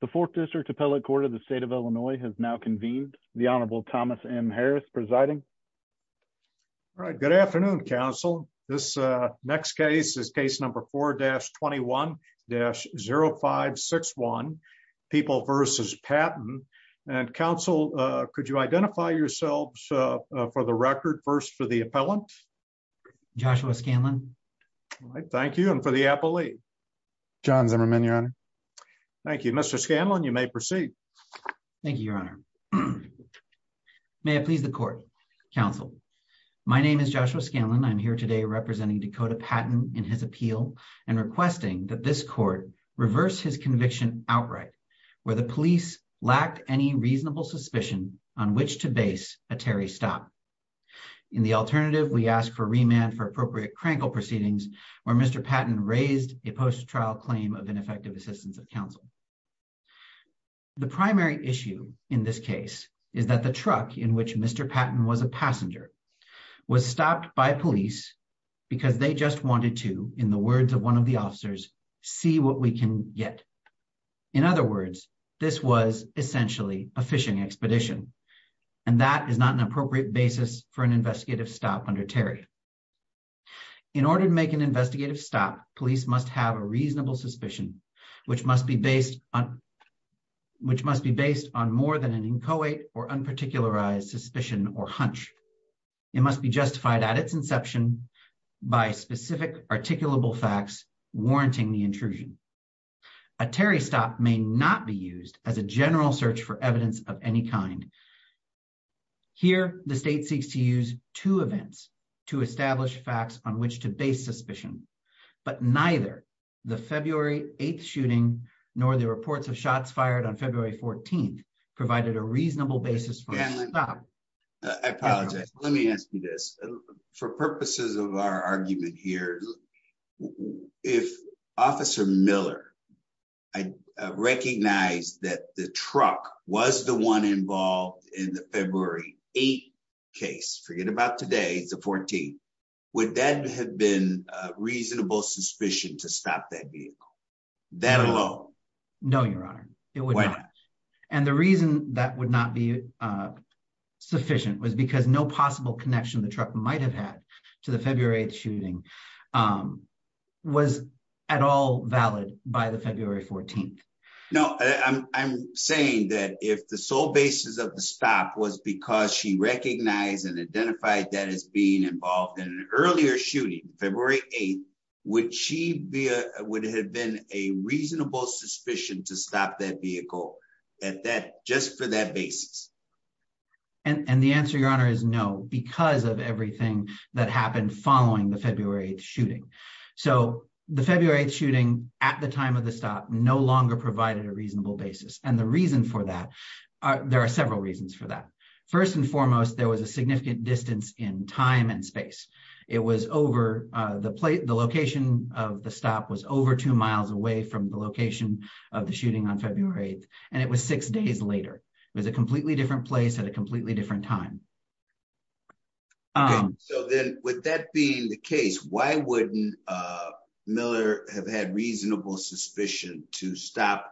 The fourth district appellate court of the state of Illinois has now convened the Honorable Thomas M. Harris presiding. Right. Good afternoon, counsel. This next case is case number four dash 21 dash 0561 people versus patent and counsel. Could you identify yourselves for the record first for the appellant. Joshua Scanlon. Thank you. And for the appellate. John Zimmerman your honor. Thank you, Mr Scanlon you may proceed. Thank you, Your Honor. May I please the court counsel. My name is Joshua Scanlon I'm here today representing Dakota patent in his appeal and requesting that this court reverse his conviction outright, where the police lacked any reasonable suspicion on which to base a Terry stop. In the alternative we asked for remand for appropriate Crankle proceedings, where Mr Patton raised a post trial claim of ineffective assistance of counsel. The primary issue in this case is that the truck in which Mr Patton was a passenger was stopped by police, because they just wanted to, in the words of one of the officers, see what we can get. In other words, this was essentially a fishing expedition. And that is not an appropriate basis for an investigative stop under Terry. In order to make an investigative stop police must have a reasonable suspicion, which must be based on, which must be based on more than an inchoate or unparticularized suspicion or hunch. It must be justified at its inception by specific articulable facts, warranting the intrusion. A Terry stop may not be used as a general search for evidence of any kind. Here, the state seeks to use two events to establish facts on which to base suspicion, but neither the February 8 shooting, nor the reports of shots fired on February 14 provided a reasonable basis. I apologize. Let me ask you this. For purposes of our argument here. If Officer Miller, I recognize that the truck was the one involved in the February, eight case forget about today's the 14th. Would that have been reasonable suspicion to stop that vehicle. That alone. No, Your Honor. And the reason that would not be sufficient was because no possible connection the truck might have had to the February shooting was at all valid by the February 14. No, I'm saying that if the sole basis of the stop was because she recognized and identified that as being involved in an earlier shooting February, eight, which she would have been a reasonable suspicion to stop that vehicle at that just for that basis. And the answer Your Honor is no, because of everything that happened following the February shooting. So, the February shooting at the time of the stop no longer provided a reasonable basis and the reason for that. There are several reasons for that. First and foremost, there was a significant distance in time and space. It was over the plate the location of the stop was over two miles away from the location of the shooting on February, and it was six days later. It was a completely different place at a completely different time. So, then, with that being the case, why wouldn't Miller have had reasonable suspicion to stop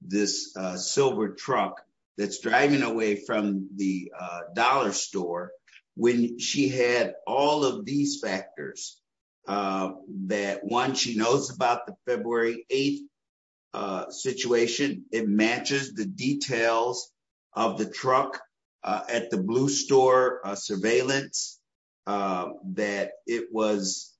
this silver truck that's driving away from the dollar store when she had all of these factors. That one she knows about the February, eight situation, it matches the details of the truck at the blue store surveillance that it was.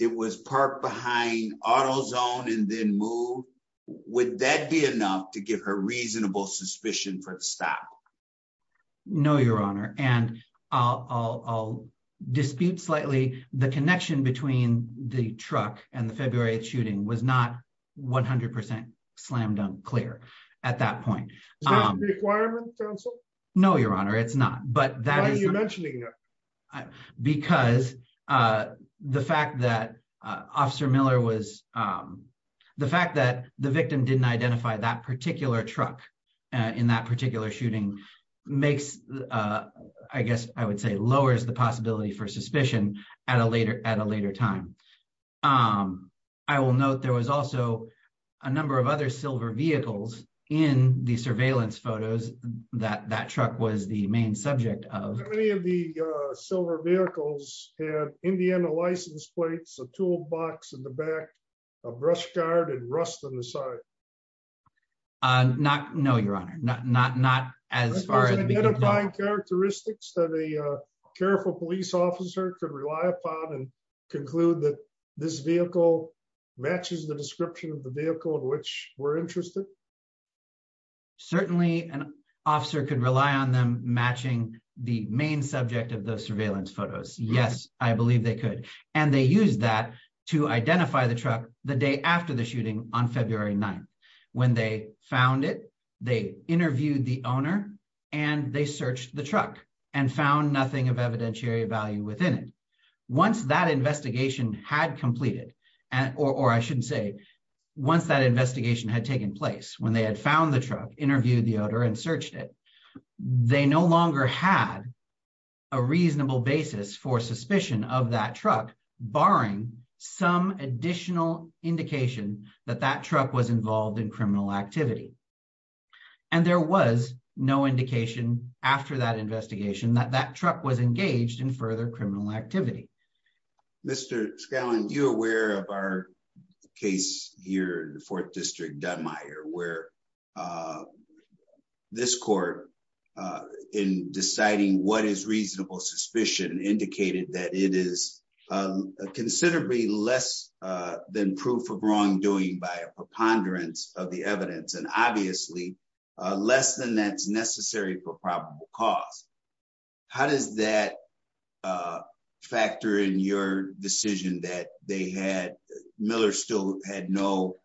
It was parked behind auto zone and then move with that be enough to give her reasonable suspicion for the stock. No, Your Honor, and I'll dispute slightly the connection between the truck and the February shooting was not 100% slam dunk clear. At that point, requirement. No, Your Honor, it's not, but that is mentioning. Because the fact that officer Miller was the fact that the victim didn't identify that particular truck in that particular shooting makes, I guess, I would say lowers the possibility for suspicion at a later at a later time. I will note there was also a number of other silver vehicles in the surveillance photos that that truck was the main subject of the silver vehicles, Indiana license plates a toolbox in the back of brush guard and rust on the side. Not No, Your Honor, not not not as far as characteristics that a careful police officer could rely upon and conclude that this vehicle matches the description of the vehicle in which we're interested. Certainly, an officer could rely on them matching the main subject of the surveillance photos. Yes, I believe they could, and they use that to identify the truck, the day after the shooting on February 9 when they found it. They interviewed the owner, and they searched the truck and found nothing of evidentiary value within it. Once that investigation had completed, and or I shouldn't say, once that investigation had taken place when they had found the truck interviewed the owner and searched it. They no longer had a reasonable basis for suspicion of that truck, barring some additional indication that that truck was involved in criminal activity. And there was no indication after that investigation that that truck was engaged in further criminal activity. Mr. Scallon, you're aware of our case here in the fourth district Dunmire where this court in deciding what is reasonable suspicion indicated that it is considerably less than proof of wrongdoing by a preponderance of the evidence and obviously less than that's necessary for probable cause. How does that factor in your decision that they had Miller still had no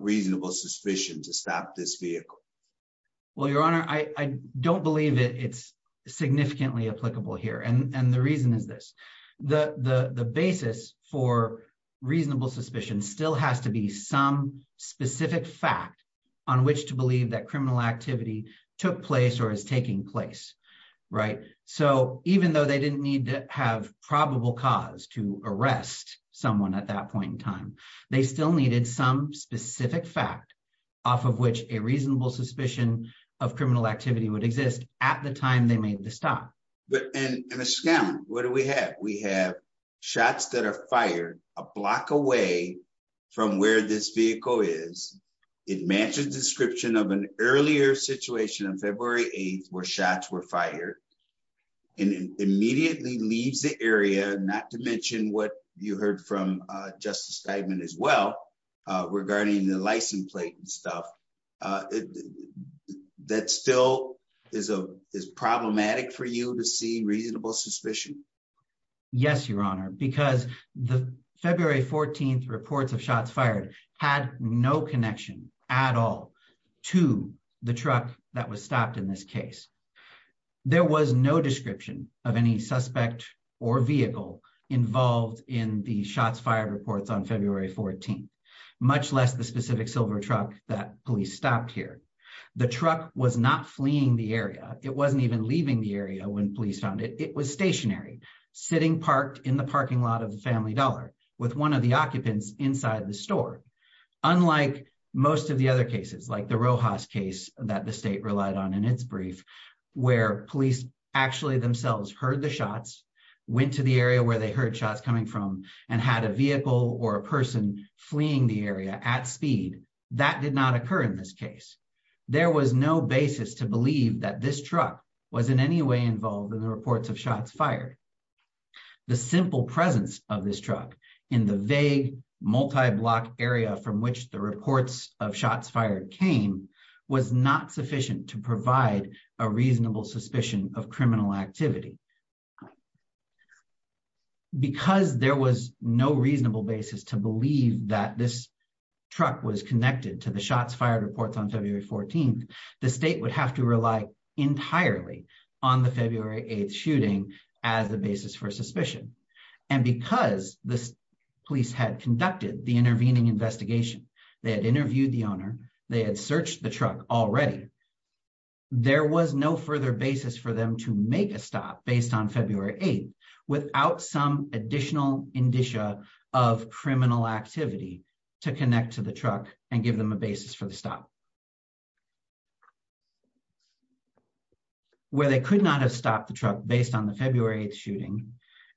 reasonable suspicion to stop this vehicle. Well, Your Honor, I don't believe it's significantly applicable here and the reason is this, the basis for reasonable suspicion still has to be some specific fact on which to believe that criminal activity took place or is taking place. Right. So, even though they didn't need to have probable cause to arrest someone at that point in time, they still needed some specific fact, off of which a reasonable suspicion of criminal activity would exist at the time they made the stop. Mr. Scallon, what do we have? We have shots that are fired a block away from where this vehicle is. It matches the description of an earlier situation on February 8th where shots were fired. Yes, Your Honor, because the February 14th reports of shots fired had no connection at all to the truck that was stopped in this case. There was no description of any suspect or vehicle involved in the shots fired reports on February 14th, much less the specific silver truck that police stopped here. The truck was not fleeing the area. It wasn't even leaving the area when police found it. It was stationary, sitting parked in the parking lot of Family Dollar with one of the occupants inside the store. Unlike most of the other cases, like the Rojas case that the state relied on in its brief, where police actually themselves heard the shots, went to the area where they heard shots coming from, and had a vehicle or a person fleeing the area at speed, that did not occur in this case. There was no basis to believe that this truck was in any way involved in the reports of shots fired. The simple presence of this truck in the vague, multi-block area from which the reports of shots fired came was not sufficient to provide a reasonable suspicion of criminal activity. Because there was no reasonable basis to believe that this truck was connected to the shots fired reports on February 14th, the state would have to rely entirely on the February 8th shooting as a basis for suspicion. And because the police had conducted the intervening investigation, they had interviewed the owner, they had searched the truck already, there was no further basis for them to make a stop based on February 8th without some additional indicia of criminal activity to connect to the truck and give them a basis for the stop. Where they could not have stopped the truck based on the February 8th shooting,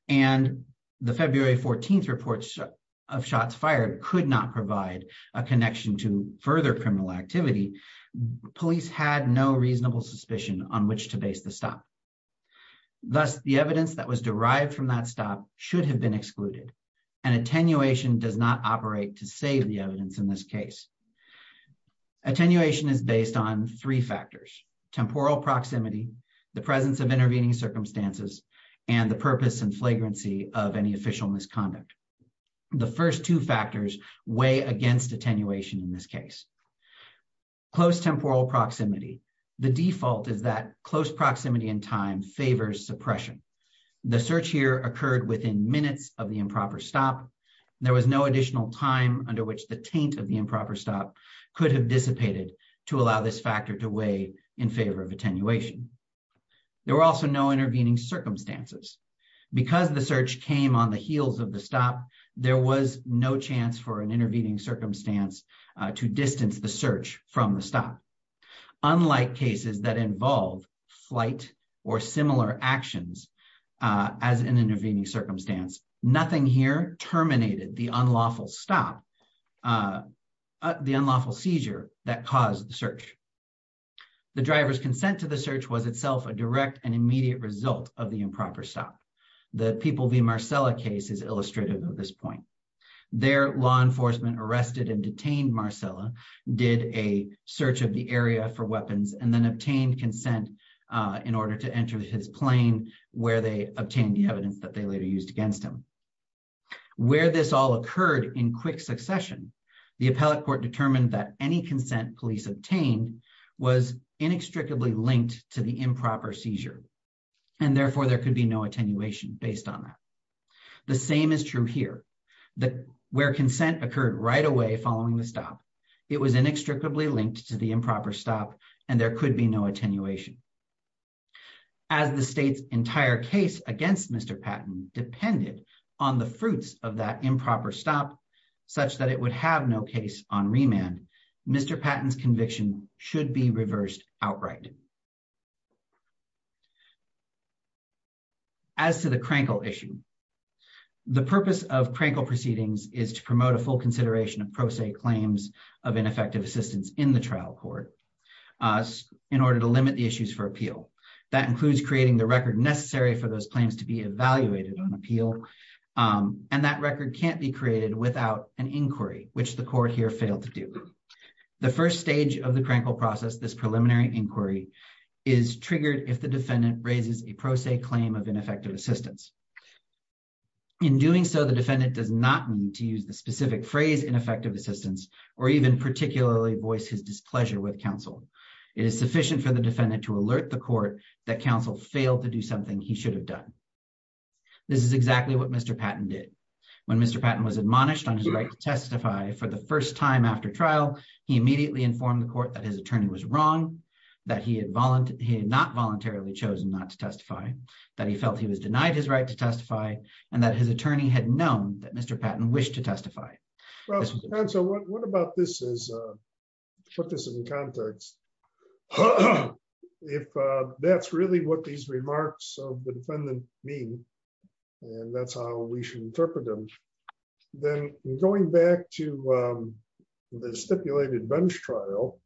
and the February 14th reports of shots fired could not provide a connection to further criminal activity, police had no reasonable suspicion on which to base the stop. Thus, the evidence that was derived from that stop should have been excluded, and attenuation does not operate to save the evidence in this case. Attenuation is based on three factors, temporal proximity, the presence of intervening circumstances, and the purpose and flagrancy of any official misconduct. The first two factors weigh against attenuation in this case. Close temporal proximity. The default is that close proximity in time favors suppression. The search here occurred within minutes of the improper stop. There was no additional time under which the taint of the improper stop could have dissipated to allow this factor to weigh in favor of attenuation. There were also no intervening circumstances. Because the search came on the heels of the stop, there was no chance for an intervening circumstance to distance the search from the stop. Unlike cases that involve flight or similar actions as an intervening circumstance, nothing here terminated the unlawful stop, the unlawful seizure that caused the search. The driver's consent to the search was itself a direct and immediate result of the improper stop. The People v. Marcella case is illustrative of this point. Their law enforcement arrested and detained Marcella, did a search of the area for weapons, and then obtained consent in order to enter his plane where they obtained the evidence that they later used against him. Where this all occurred in quick succession, the appellate court determined that any consent police obtained was inextricably linked to the improper seizure, and therefore there could be no attenuation based on that. The same is true here. Where consent occurred right away following the stop, it was inextricably linked to the improper stop, and there could be no attenuation. As the state's entire case against Mr. Patton depended on the fruits of that improper stop, such that it would have no case on remand, Mr. Patton's conviction should be reversed outright. As to the Krankel issue, the purpose of Krankel proceedings is to promote a full consideration of pro se claims of ineffective assistance in the trial court in order to limit the issues for appeal. That includes creating the record necessary for those claims to be evaluated on appeal, and that record can't be created without an inquiry, which the court here failed to do. The first stage of the Krankel process, this preliminary inquiry, is triggered if the defendant raises a pro se claim of ineffective assistance. In doing so, the defendant does not need to use the specific phrase ineffective assistance, or even particularly voice his displeasure with counsel. It is sufficient for the defendant to alert the court that counsel failed to do something he should have done. This is exactly what Mr. Patton did. When Mr. Patton was admonished on his right to testify for the first time after trial, he immediately informed the court that his attorney was wrong, that he had not voluntarily chosen not to testify, that he felt he was denied his right to testify, and that his attorney had known that Mr. Patton wished to testify. So what about this is, put this in context. If that's really what these remarks of the defendant mean, and that's how we should interpret them, then going back to the stipulated bench trial.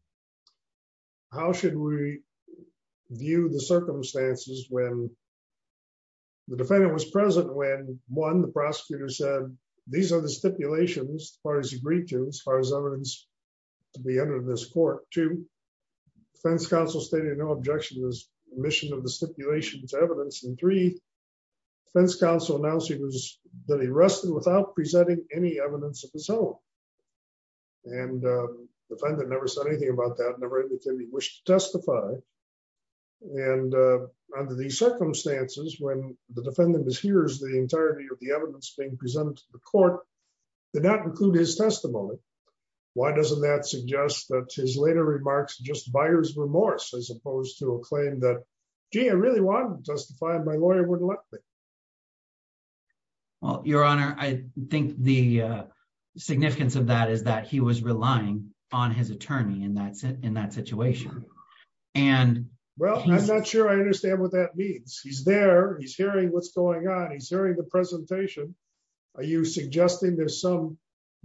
How should we view the circumstances when the defendant was present when, one, the prosecutor said, these are the stipulations as far as agreed to, as far as evidence to be entered in this court. Two, defense counsel stated no objection to the submission of the stipulation to evidence. And three, defense counsel announced he was arrested without presenting any evidence of his own. And the defendant never said anything about that, never indicated he wished to testify. And under these circumstances, when the defendant mishears the entirety of the evidence being presented to the court, did not include his testimony. Why doesn't that suggest that his later remarks are just buyer's remorse as opposed to a claim that, gee, I really wanted to testify and my lawyer wouldn't let me. Well, Your Honor, I think the significance of that is that he was relying on his attorney and that's it in that situation. And, well, I'm not sure I understand what that means. He's there, he's hearing what's going on, he's hearing the presentation. Are you suggesting there's some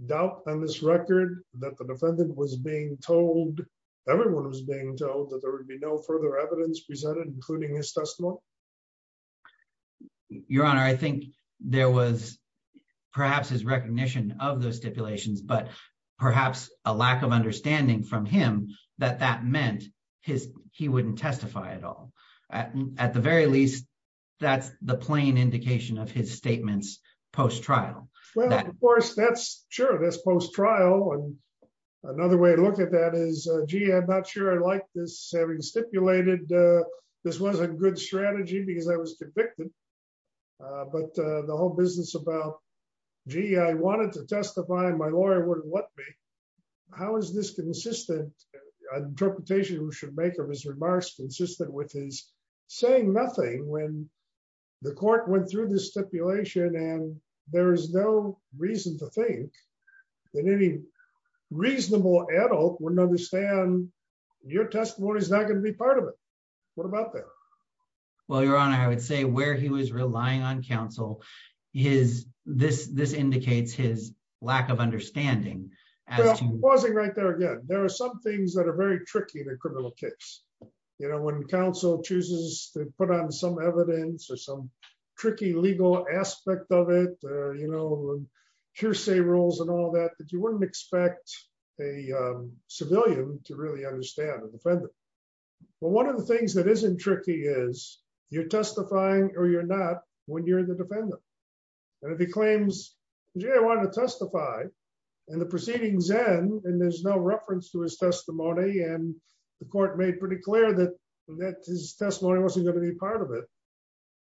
doubt on this record that the defendant was being told, everyone was being told that there would be no further evidence presented including his testimony. Your Honor, I think there was perhaps his recognition of those stipulations, but perhaps a lack of understanding from him that that meant he wouldn't testify at all. At the very least, that's the plain indication of his statements post trial. Well, of course, that's true, that's post trial. And another way to look at that is, gee, I'm not sure I like this, having stipulated, this wasn't a good strategy because I was convicted. But the whole business about, gee, I wanted to testify and my lawyer wouldn't let me. How is this consistent interpretation we should make of his remarks consistent with his saying nothing when the court went through the stipulation and there is no reason to think that any reasonable adult wouldn't understand your testimony is not going to be part of it. What about that? Well, Your Honor, I would say where he was relying on counsel, this indicates his lack of understanding. Pausing right there again. There are some things that are very tricky in a criminal case. You know, when counsel chooses to put on some evidence or some tricky legal aspect of it, you know, hearsay rules and all that, you wouldn't expect a civilian to really understand the defendant. Well, one of the things that isn't tricky is you're testifying or you're not when you're the defendant. And if he claims, gee, I want to testify, and the proceedings end and there's no reference to his testimony and the court made pretty clear that his testimony wasn't going to be part of it.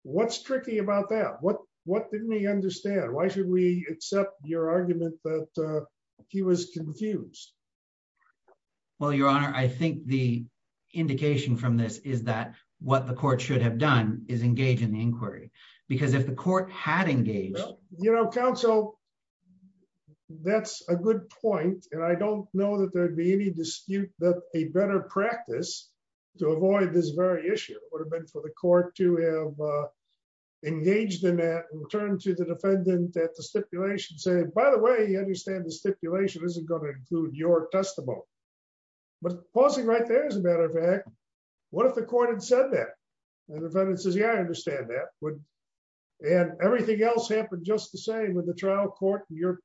What's tricky about that? What didn't he understand? Why should we accept your argument that he was confused? Well, Your Honor, I think the indication from this is that what the court should have done is engage in the inquiry, because if the court had engaged. You know, counsel, that's a good point. And I don't know that there'd be any dispute that a better practice to avoid this very issue would have been for the court to have engaged in that return to the defendant that the stipulation said, by the way, you understand the stipulation isn't going to include your testimony. But pausing right there, as a matter of fact, what if the court had said that? And the defendant says, yeah, I understand that. And everything else happened just the same with the trial court, your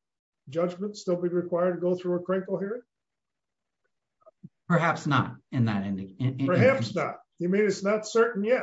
judgment still be required to go through a critical hearing? Perhaps not. Perhaps not. You mean it's not certain yet?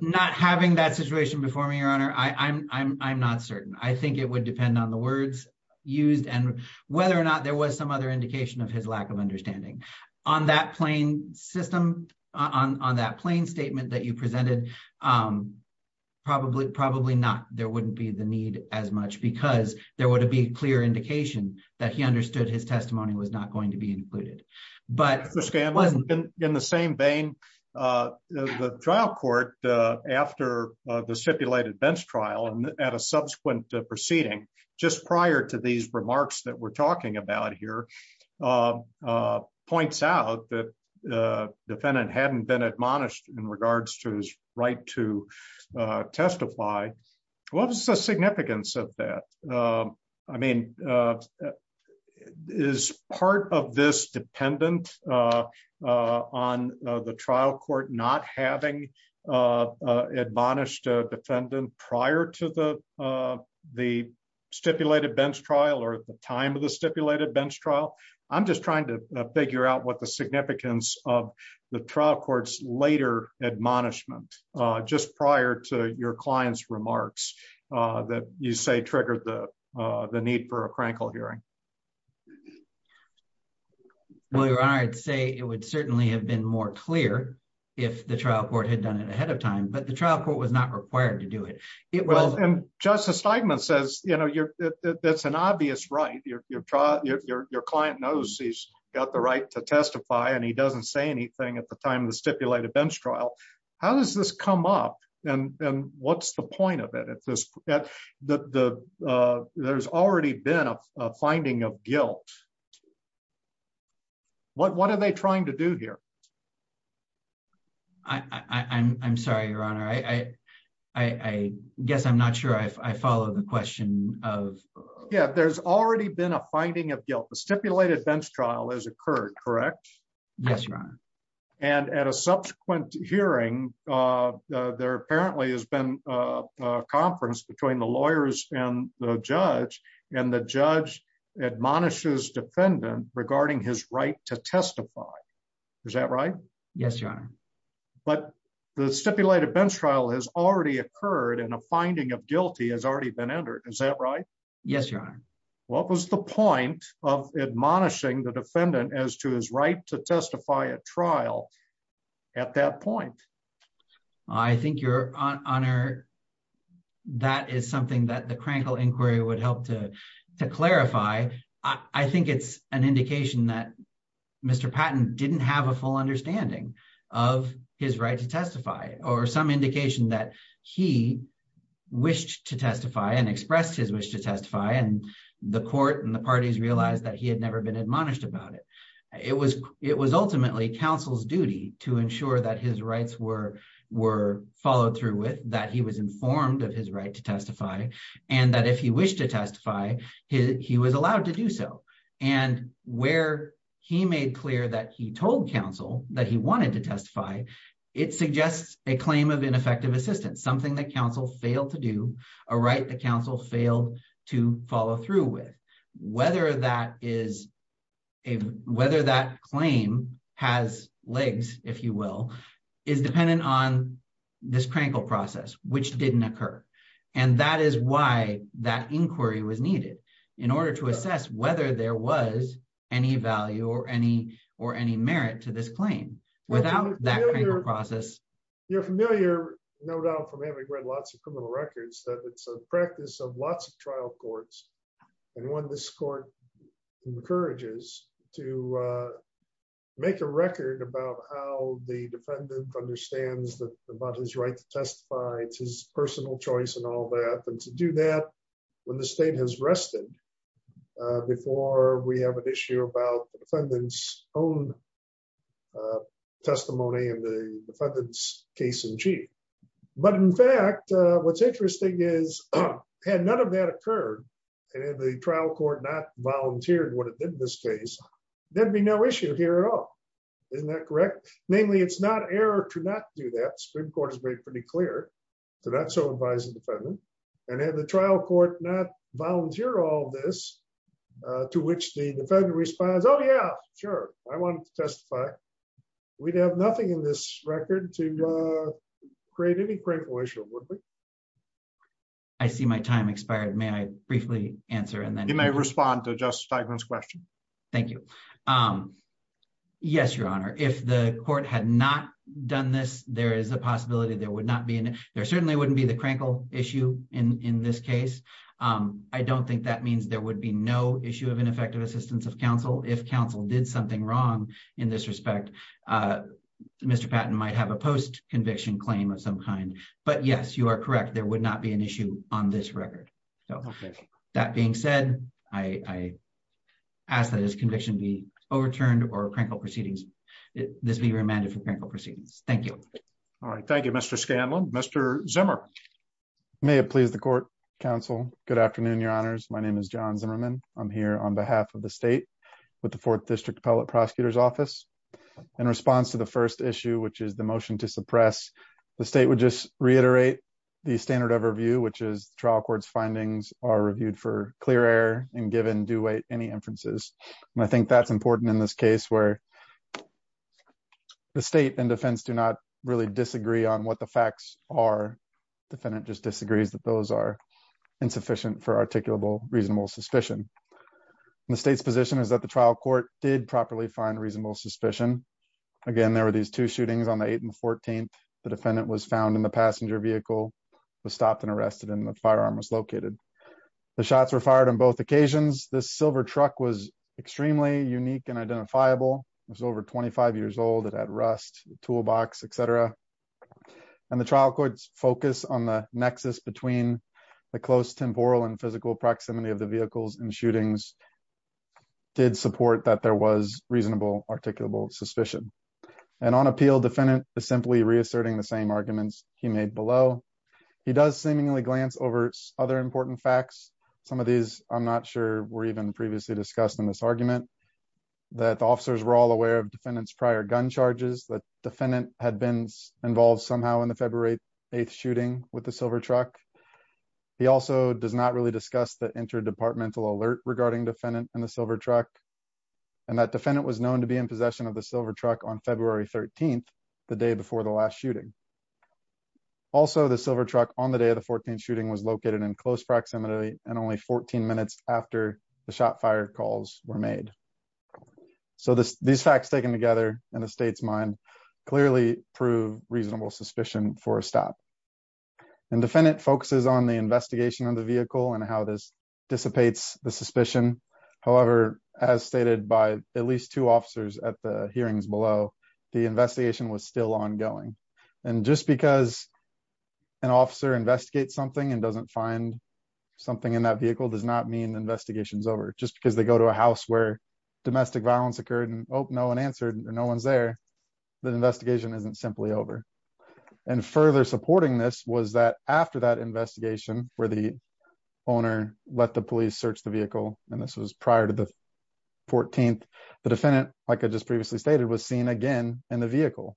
Not having that situation before me, Your Honor, I'm not certain. I think it would depend on the words used and whether or not there was some other indication of his lack of understanding. On that plain system, on that plain statement that you presented, probably not. There wouldn't be the need as much because there would be clear indication that he understood his testimony was not going to be included. In the same vein, the trial court, after the stipulated bench trial and at a subsequent proceeding, just prior to these remarks that we're talking about here, points out that the defendant hadn't been admonished in regards to his right to testify. What was the significance of that? I mean, is part of this dependent on the trial court not having admonished a defendant prior to the stipulated bench trial or at the time of the stipulated bench trial? I'm just trying to figure out what the significance of the trial court's later admonishment just prior to your client's remarks that you say triggered the need for a crankle hearing. Well, Your Honor, I'd say it would certainly have been more clear if the trial court had done it ahead of time, but the trial court was not required to do it. Justice Steigman says that's an obvious right. Your client knows he's got the right to testify and he doesn't say anything at the time of the stipulated bench trial. How does this come up and what's the point of it? There's already been a finding of guilt. What are they trying to do here? I'm sorry, Your Honor. I guess I'm not sure I follow the question. Yeah, there's already been a finding of guilt. The stipulated bench trial has occurred, correct? Yes, Your Honor. And at a subsequent hearing, there apparently has been a conference between the lawyers and the judge and the judge admonishes defendant regarding his right to testify. Is that right? Yes, Your Honor. But the stipulated bench trial has already occurred and a finding of guilty has already been entered. Is that right? Yes, Your Honor. What was the point of admonishing the defendant as to his right to testify at trial at that point? I think, Your Honor, that is something that the Krankel inquiry would help to clarify. I think it's an indication that Mr. Patton didn't have a full understanding of his right to testify or some indication that he wished to testify and expressed his wish to testify and the court and the parties realized that he had never been admonished about it. It was ultimately counsel's duty to ensure that his rights were followed through with, that he was informed of his right to testify, and that if he wished to testify, he was allowed to do so. And where he made clear that he told counsel that he wanted to testify, it suggests a claim of ineffective assistance, something that counsel failed to do, a right that counsel failed to follow through with. Whether that claim has legs, if you will, is dependent on this Krankel process, which didn't occur. And that is why that inquiry was needed, in order to assess whether there was any value or any merit to this claim. You're familiar, no doubt, from having read lots of criminal records that it's a practice of lots of trial courts. And when this court encourages to make a record about how the defendant understands that about his right to testify, it's his personal choice and all that. And to do that, when the state has rested, before we have an issue about the defendant's own testimony and the defendant's case in chief. But in fact, what's interesting is, had none of that occurred, and if the trial court not volunteered what it did in this case, there'd be no issue here at all. Isn't that correct? Namely, it's not error to not do that. Supreme Court has made pretty clear to not so advise the defendant. And if the trial court not volunteer all this, to which the defendant responds, oh yeah, sure, I want to testify. We'd have nothing in this record to create any crinkle issue, would we? I see my time expired, may I briefly answer and then you may respond to Justice Steigman's question. Thank you. Yes, Your Honor, if the court had not done this, there is a possibility there would not be, there certainly wouldn't be the crinkle issue in this case. I don't think that means there would be no issue of ineffective assistance of counsel if counsel did something wrong in this respect. Mr. Patton might have a post conviction claim of some kind. But yes, you are correct, there would not be an issue on this record. That being said, I ask that this conviction be overturned or crinkle proceedings. This be remanded for crinkle proceedings. Thank you. All right. Thank you, Mr. Scanlon. Mr. Zimmer. May it please the court, counsel. Good afternoon, Your Honors. My name is John Zimmerman. I'm here on behalf of the state with the Fourth District Appellate Prosecutor's Office. In response to the first issue, which is the motion to suppress, the state would just reiterate the standard of review, which is trial court's findings are reviewed for clear air and given due weight any inferences. And I think that's important in this case where the state and defense do not really disagree on what the facts are. The defendant just disagrees that those are insufficient for articulable reasonable suspicion. The state's position is that the trial court did properly find reasonable suspicion. Again, there were these two shootings on the eighth and 14th, the defendant was found in the passenger vehicle was stopped and arrested in the firearm was located. The shots were fired on both occasions, the silver truck was extremely unique and identifiable was over 25 years old it had rust toolbox, etc. And the trial court's focus on the nexus between the close temporal and physical proximity of the vehicles and shootings did support that there was reasonable articulable suspicion. And on appeal defendant is simply reasserting the same arguments, he made below. He does seemingly glance over other important facts. Some of these, I'm not sure we're even previously discussed in this argument that the officers were all aware of defendants prior gun charges that defendant had been involved somehow in the February, eighth shooting with the silver truck. He also does not really discuss the inter departmental alert regarding defendant and the silver truck, and that defendant was known to be in possession of the silver truck on February 13, the day before the last shooting. Also the silver truck on the day of the 14 shooting was located in close proximity, and only 14 minutes after the shot fire calls were made. So this these facts taken together in the state's mind clearly prove reasonable suspicion for a stop and defendant focuses on the investigation of the vehicle and how this dissipates the suspicion. However, as stated by at least two officers at the hearings below the investigation was still ongoing. And just because an officer investigate something and doesn't find something in that vehicle does not mean investigations over just because they go to a house And further supporting this was that after that investigation, where the owner, let the police search the vehicle, and this was prior to the 14th, the defendant, like I just previously stated was seen again in the vehicle.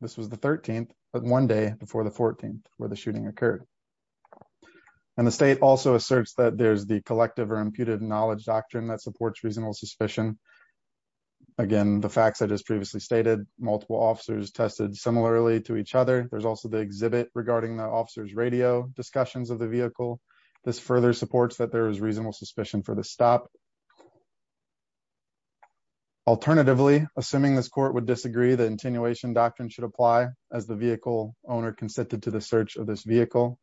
This was the 13th, but one day before the 14th, where the shooting occurred. And the state also asserts that there's the collective or imputed knowledge doctrine that supports reasonable suspicion. Again, the facts I just previously stated multiple officers tested similarly to each other. There's also the exhibit regarding the officers radio discussions of the vehicle. This further supports that there is reasonable suspicion for the stop. Alternatively, assuming this court would disagree the attenuation doctrine should apply as the vehicle owner consented to the search of this vehicle.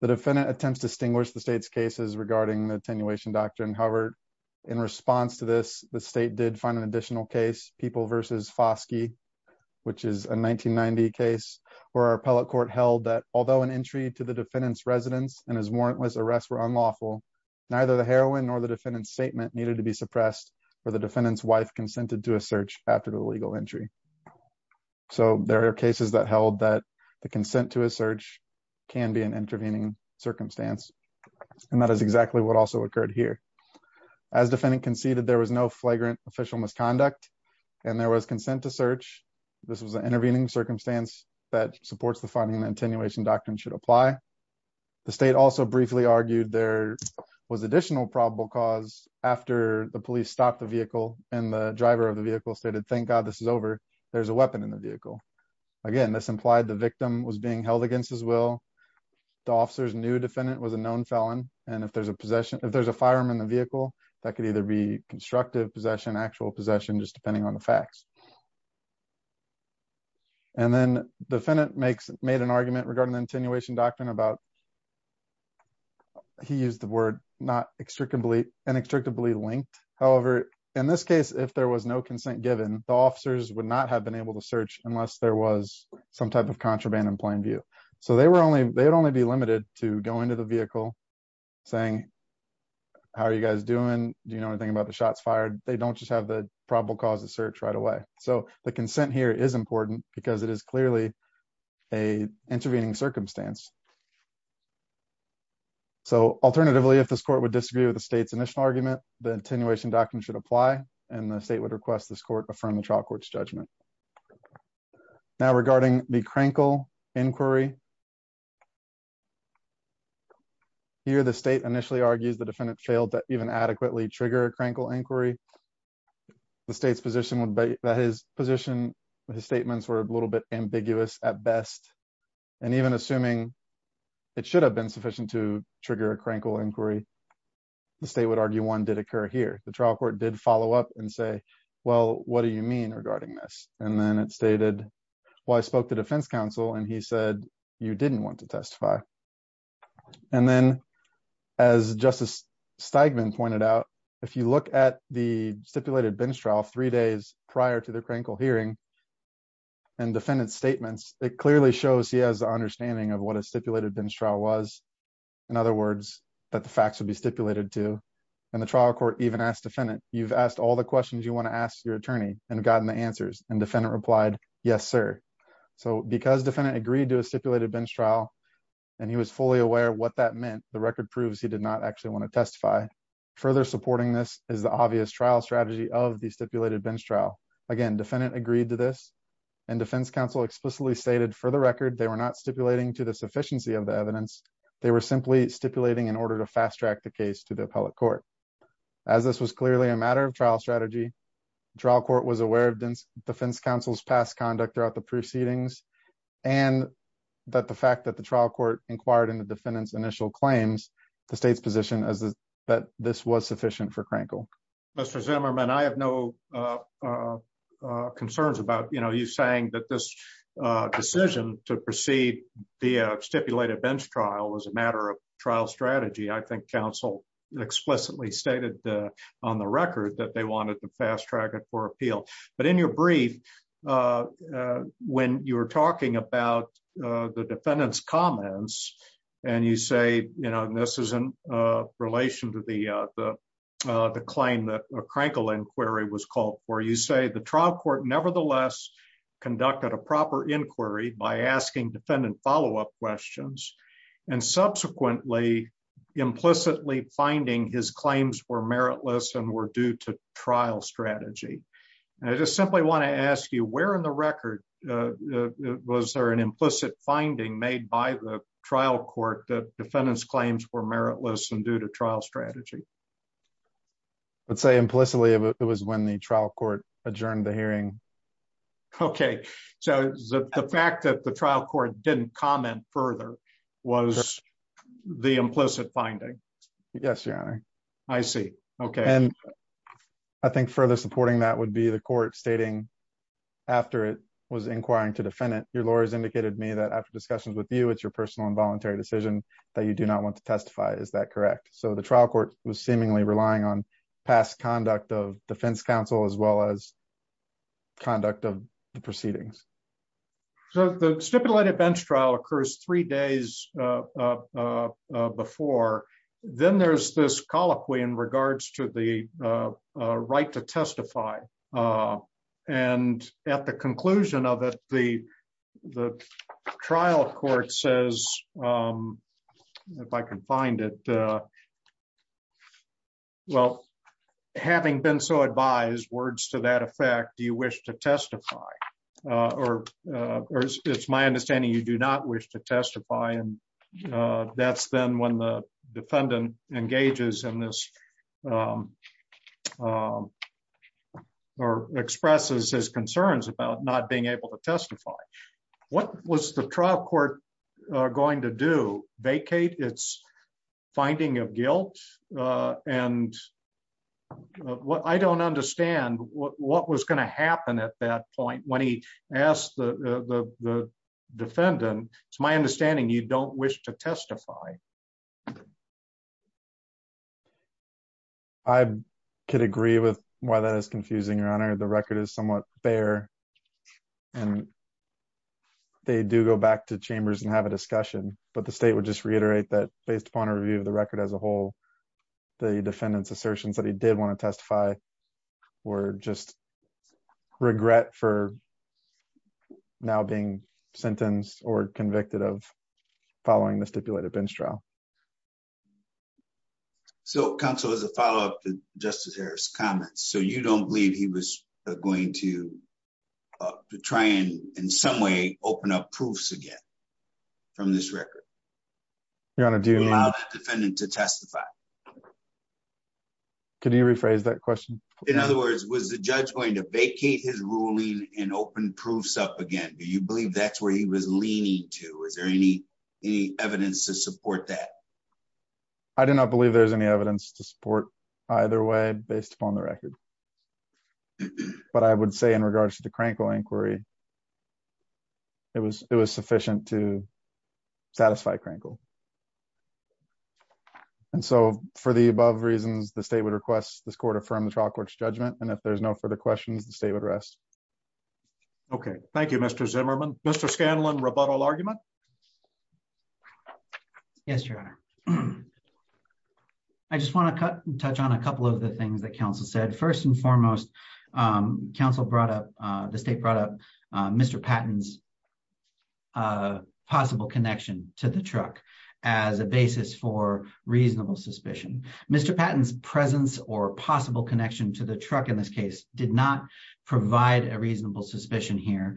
The defendant attempts to distinguish the state's cases regarding the attenuation doctrine. However, in response to this, the state did find an additional case people versus Foskey. Which is a 1990 case where our appellate court held that although an entry to the defendant's residence and his warrantless arrest were unlawful. Neither the heroin or the defendant statement needed to be suppressed for the defendant's wife consented to a search after the legal entry. So there are cases that held that the consent to a search can be an intervening circumstance. And that is exactly what also occurred here. As defendant conceded there was no flagrant official misconduct and there was consent to search. This was an intervening circumstance that supports the funding attenuation doctrine should apply. The state also briefly argued there was additional probable cause after the police stopped the vehicle and the driver of the vehicle stated, thank God, this is over. There's a weapon in the vehicle. Again, this implied the victim was being held against his will. The officer's new defendant was a known felon. And if there's a possession if there's a firearm in the vehicle that could either be constructive possession actual possession just depending on the facts. And then the defendant makes made an argument regarding the attenuation doctrine about. He used the word not extricably inextricably linked. However, in this case, if there was no consent given the officers would not have been able to search unless there was some type of contraband in plain view, so they were only they would only be limited to go into the vehicle saying How are you guys doing. Do you know anything about the shots fired, they don't just have the probable cause of search right away. So the consent here is important because it is clearly a intervening circumstance. So alternatively, if this court would disagree with the state's initial argument, the attenuation doctrine should apply and the state would request this court from the trial courts judgment. Now regarding the crinkle inquiry. Here the state initially argues the defendant failed to even adequately trigger a crinkle inquiry. The state's position would be that his position his statements were a little bit ambiguous at best. And even assuming it should have been sufficient to trigger a crinkle inquiry. The state would argue one did occur here. The trial court did follow up and say, Well, what do you mean regarding this and then it stated, Well, I spoke to defense counsel and he said you didn't want to testify. And then as justice statement pointed out, if you look at the stipulated bench trial three days prior to the crinkle hearing and defendant's statements, it clearly shows he has an understanding of what a stipulated bench trial was. In other words, that the facts would be stipulated to and the trial court even asked defendant, you've asked all the questions you want to ask your attorney and gotten the answers and defendant replied, Yes, sir. So because defendant agreed to a stipulated bench trial, and he was fully aware of what that meant, the record proves he did not actually want to testify. Further supporting this is the obvious trial strategy of the stipulated bench trial. Again, defendant agreed to this and defense counsel explicitly stated for the record, they were not stipulating to the sufficiency of the evidence. They were simply stipulating in order to fast track the case to the appellate court. As this was clearly a matter of trial strategy. trial court was aware of defense counsel's past conduct throughout the proceedings, and that the fact that the trial court inquired into defendants initial claims, the state's position is that this was sufficient for crinkle. Mr Zimmerman I have no concerns about you know you saying that this decision to proceed the stipulated bench trial as a matter of trial strategy I think counsel explicitly stated on the record that they wanted to fast track it for appeal, but in your brief. When you're talking about the defendants comments, and you say, you know, this is in relation to the, the claim that a crinkle inquiry was called for you say the trial court nevertheless conducted a proper inquiry by asking defendant follow up questions, and subsequently implicitly finding his claims were meritless and were due to trial strategy. And I just simply want to ask you where in the record. Was there an implicit finding made by the trial court that defendants claims were meritless and due to trial strategy. Let's say implicitly, it was when the trial court adjourned the hearing. Okay, so the fact that the trial court didn't comment further was the implicit finding. Yes. I see. Okay. I think further supporting that would be the court stating. After it was inquiring to defend it, your lawyers indicated me that after discussions with you it's your personal involuntary decision that you do not want to testify. Is that correct, so the trial court was seemingly relying on past conduct of defense counsel as well as conduct of the proceedings. So the stipulated bench trial occurs three days before, then there's this colloquy in regards to the right to testify. And at the conclusion of it, the, the trial court says, if I can find it. Well, having been so advised words to that effect, do you wish to testify, or, or it's my understanding you do not wish to testify and that's then when the defendant engages in this or expresses his concerns about not being able to testify. What was the trial court going to do vacate it's finding of guilt and what I don't understand what was going to happen at that point when he asked the defendant, it's my understanding you don't wish to testify. I could agree with why that is confusing your honor the record is somewhat there. And they do go back to chambers and have a discussion, but the state would just reiterate that based upon a review of the record as a whole. The defendants assertions that he did want to testify, or just regret for now being sentenced or convicted of following the stipulated bench trial. So Council as a follow up to Justice Harris comments so you don't believe he was going to try and in some way, open up proofs again from this record. Your Honor, do you allow the defendant to testify. Can you rephrase that question. In other words, was the judge going to vacate his ruling and open proofs up again do you believe that's where he was leaning to is there any, any evidence to support that. I do not believe there's any evidence to support, either way, based upon the record. But I would say in regards to the cranky inquiry. It was, it was sufficient to satisfy crinkle. And so, for the above reasons the state would request this quarter from the trial courts judgment and if there's no further questions the state would rest. Okay, thank you, Mr Zimmerman, Mr Scanlon rebuttal argument. Yes, Your Honor. I just want to touch on a couple of the things that Council said first and foremost, Council brought up the state brought up. Mr Patton's possible connection to the truck as a basis for reasonable suspicion, Mr Patton's presence or possible connection to the truck in this case, did not provide a reasonable suspicion here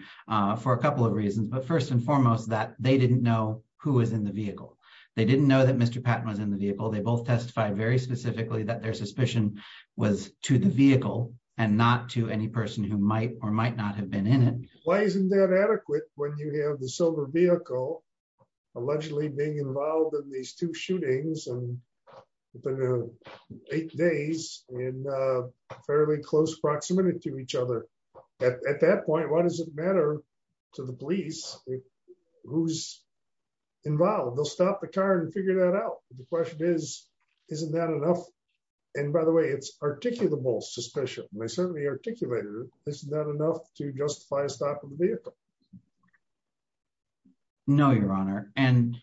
for a couple of reasons but first and foremost that they didn't know who was in the vehicle. They didn't know that Mr Patton was in the vehicle they both testified very specifically that their suspicion was to the vehicle, and not to any person who might or might not have been in it. Why isn't that adequate, when you have the silver vehicle, allegedly being involved in these two shootings and eight days in fairly close proximity to each other. At that point, what does it matter to the police, who's involved they'll stop the car and figure that out. The question is, isn't that enough. And by the way it's articulable suspicion, they certainly articulated, isn't that enough to justify a stop in the vehicle. No, Your Honor, and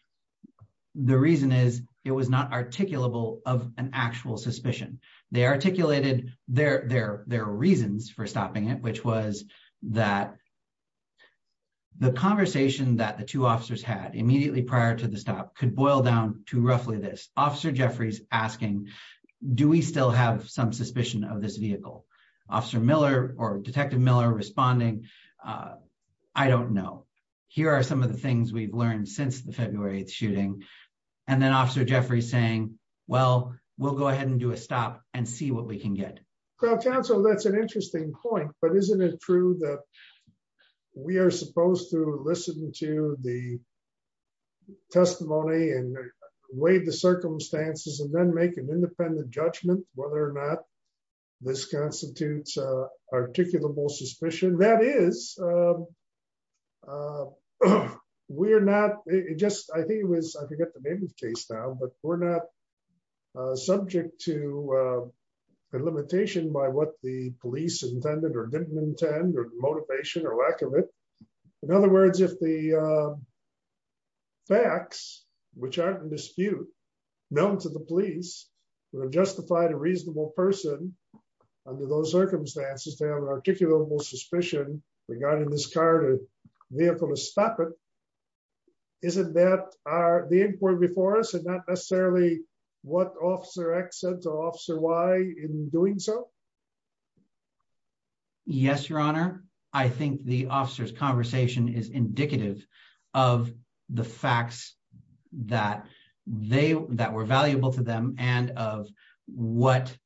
the reason is, it was not articulable of an actual suspicion, they articulated their, their, their reasons for stopping it which was that the conversation that the two officers had immediately prior to the stop could boil down to roughly this question. Do we still have some suspicion of this vehicle. Officer Miller, or Detective Miller responding. I don't know. Here are some of the things we've learned since the February 8 shooting. And then Officer Jeffrey saying, well, we'll go ahead and do a stop and see what we can get. Council that's an interesting point but isn't it true that we are supposed to listen to the testimony and wait the circumstances and then make an independent judgment, whether or not this constitutes articulable suspicion that is. We're not just, I think it was, I forget the name of the case now but we're not subject to the limitation by what the police intended or didn't intend or motivation or lack of it. In other words, if the facts, which aren't in dispute known to the police were justified a reasonable person. Under those circumstances to have an articulable suspicion regarding this car to be able to stop it. Isn't that are the important before us and not necessarily what officer accent officer why in doing so. Yes, Your Honor. I think the officers conversation is indicative of the facts that they that were valuable to them, and of what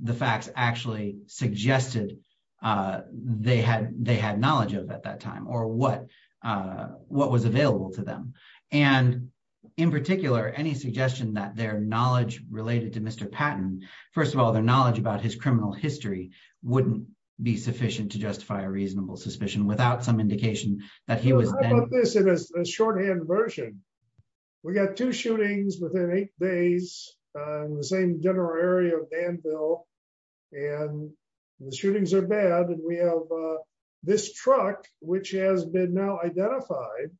the facts actually suggested they had they had knowledge of at that time or what, what was available to them. And in particular, any suggestion that their knowledge related to Mr Patton. First of all, their knowledge about his criminal history wouldn't be sufficient to justify a reasonable suspicion without some indication that he was a shorthand version. We got two shootings within eight days, the same general area of Danville, and the shootings are bad and we have this truck, which has been now identified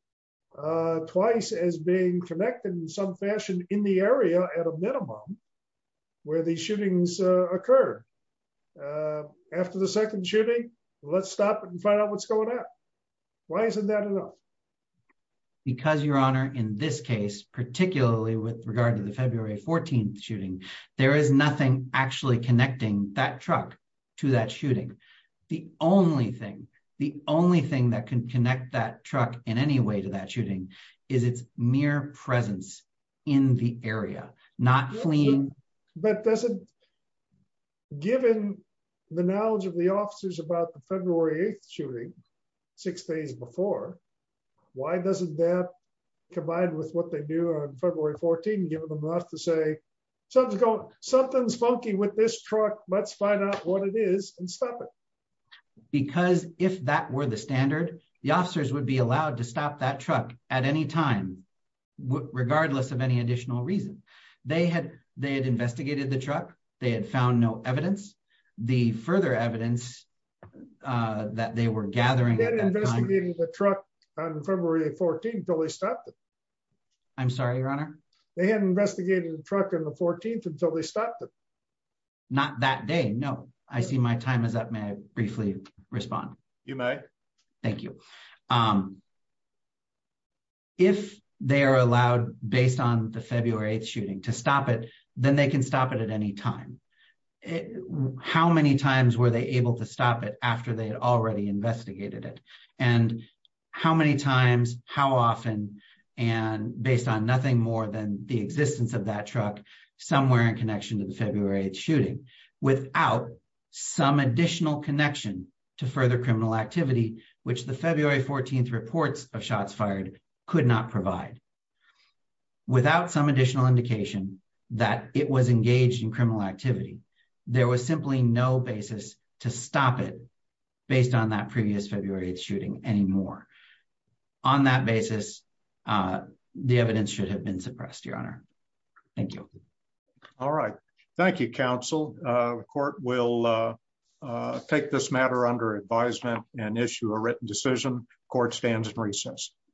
twice as being connected in some fashion in the area at a minimum, where the shootings occur. After the second shooting. Let's stop and find out what's going on. Why isn't that enough. Because your honor in this case, particularly with regard to the February 14 shooting. There is nothing actually connecting that truck to that shooting. The only thing, the only thing that can connect that truck in any way to that shooting is it's mere presence in the area, not fleeing, but doesn't. Given the knowledge of the officers about the February 8 shooting six days before. Why doesn't that, combined with what they do on February 14 give them enough to say something's going something's funky with this truck, let's find out what it is and stop it. Because if that were the standard, the officers would be allowed to stop that truck at any time. Regardless of any additional reason they had, they had investigated the truck, they had found no evidence. The further evidence that they were gathering the truck on February 14 totally stopped. I'm sorry, your honor. They had investigated the truck in the 14th until they stopped. Not that day. No, I see my time is up. May I briefly respond. You may. Thank you. If they are allowed, based on the February 8 shooting to stop it, then they can stop it at any time. How many times were they able to stop it after they had already investigated it. And how many times, how often, and based on nothing more than the existence of that truck somewhere in connection to the February 8 shooting without some additional connection to further criminal activity, which the February 14 reports of shots fired could not provide. Without some additional indication that it was engaged in criminal activity. There was simply no basis to stop it based on that previous February 8 shooting anymore. On that basis, the evidence should have been suppressed, your honor. Thank you. All right. Thank you, counsel court will take this matter under advisement and issue a written decision court stands in recess.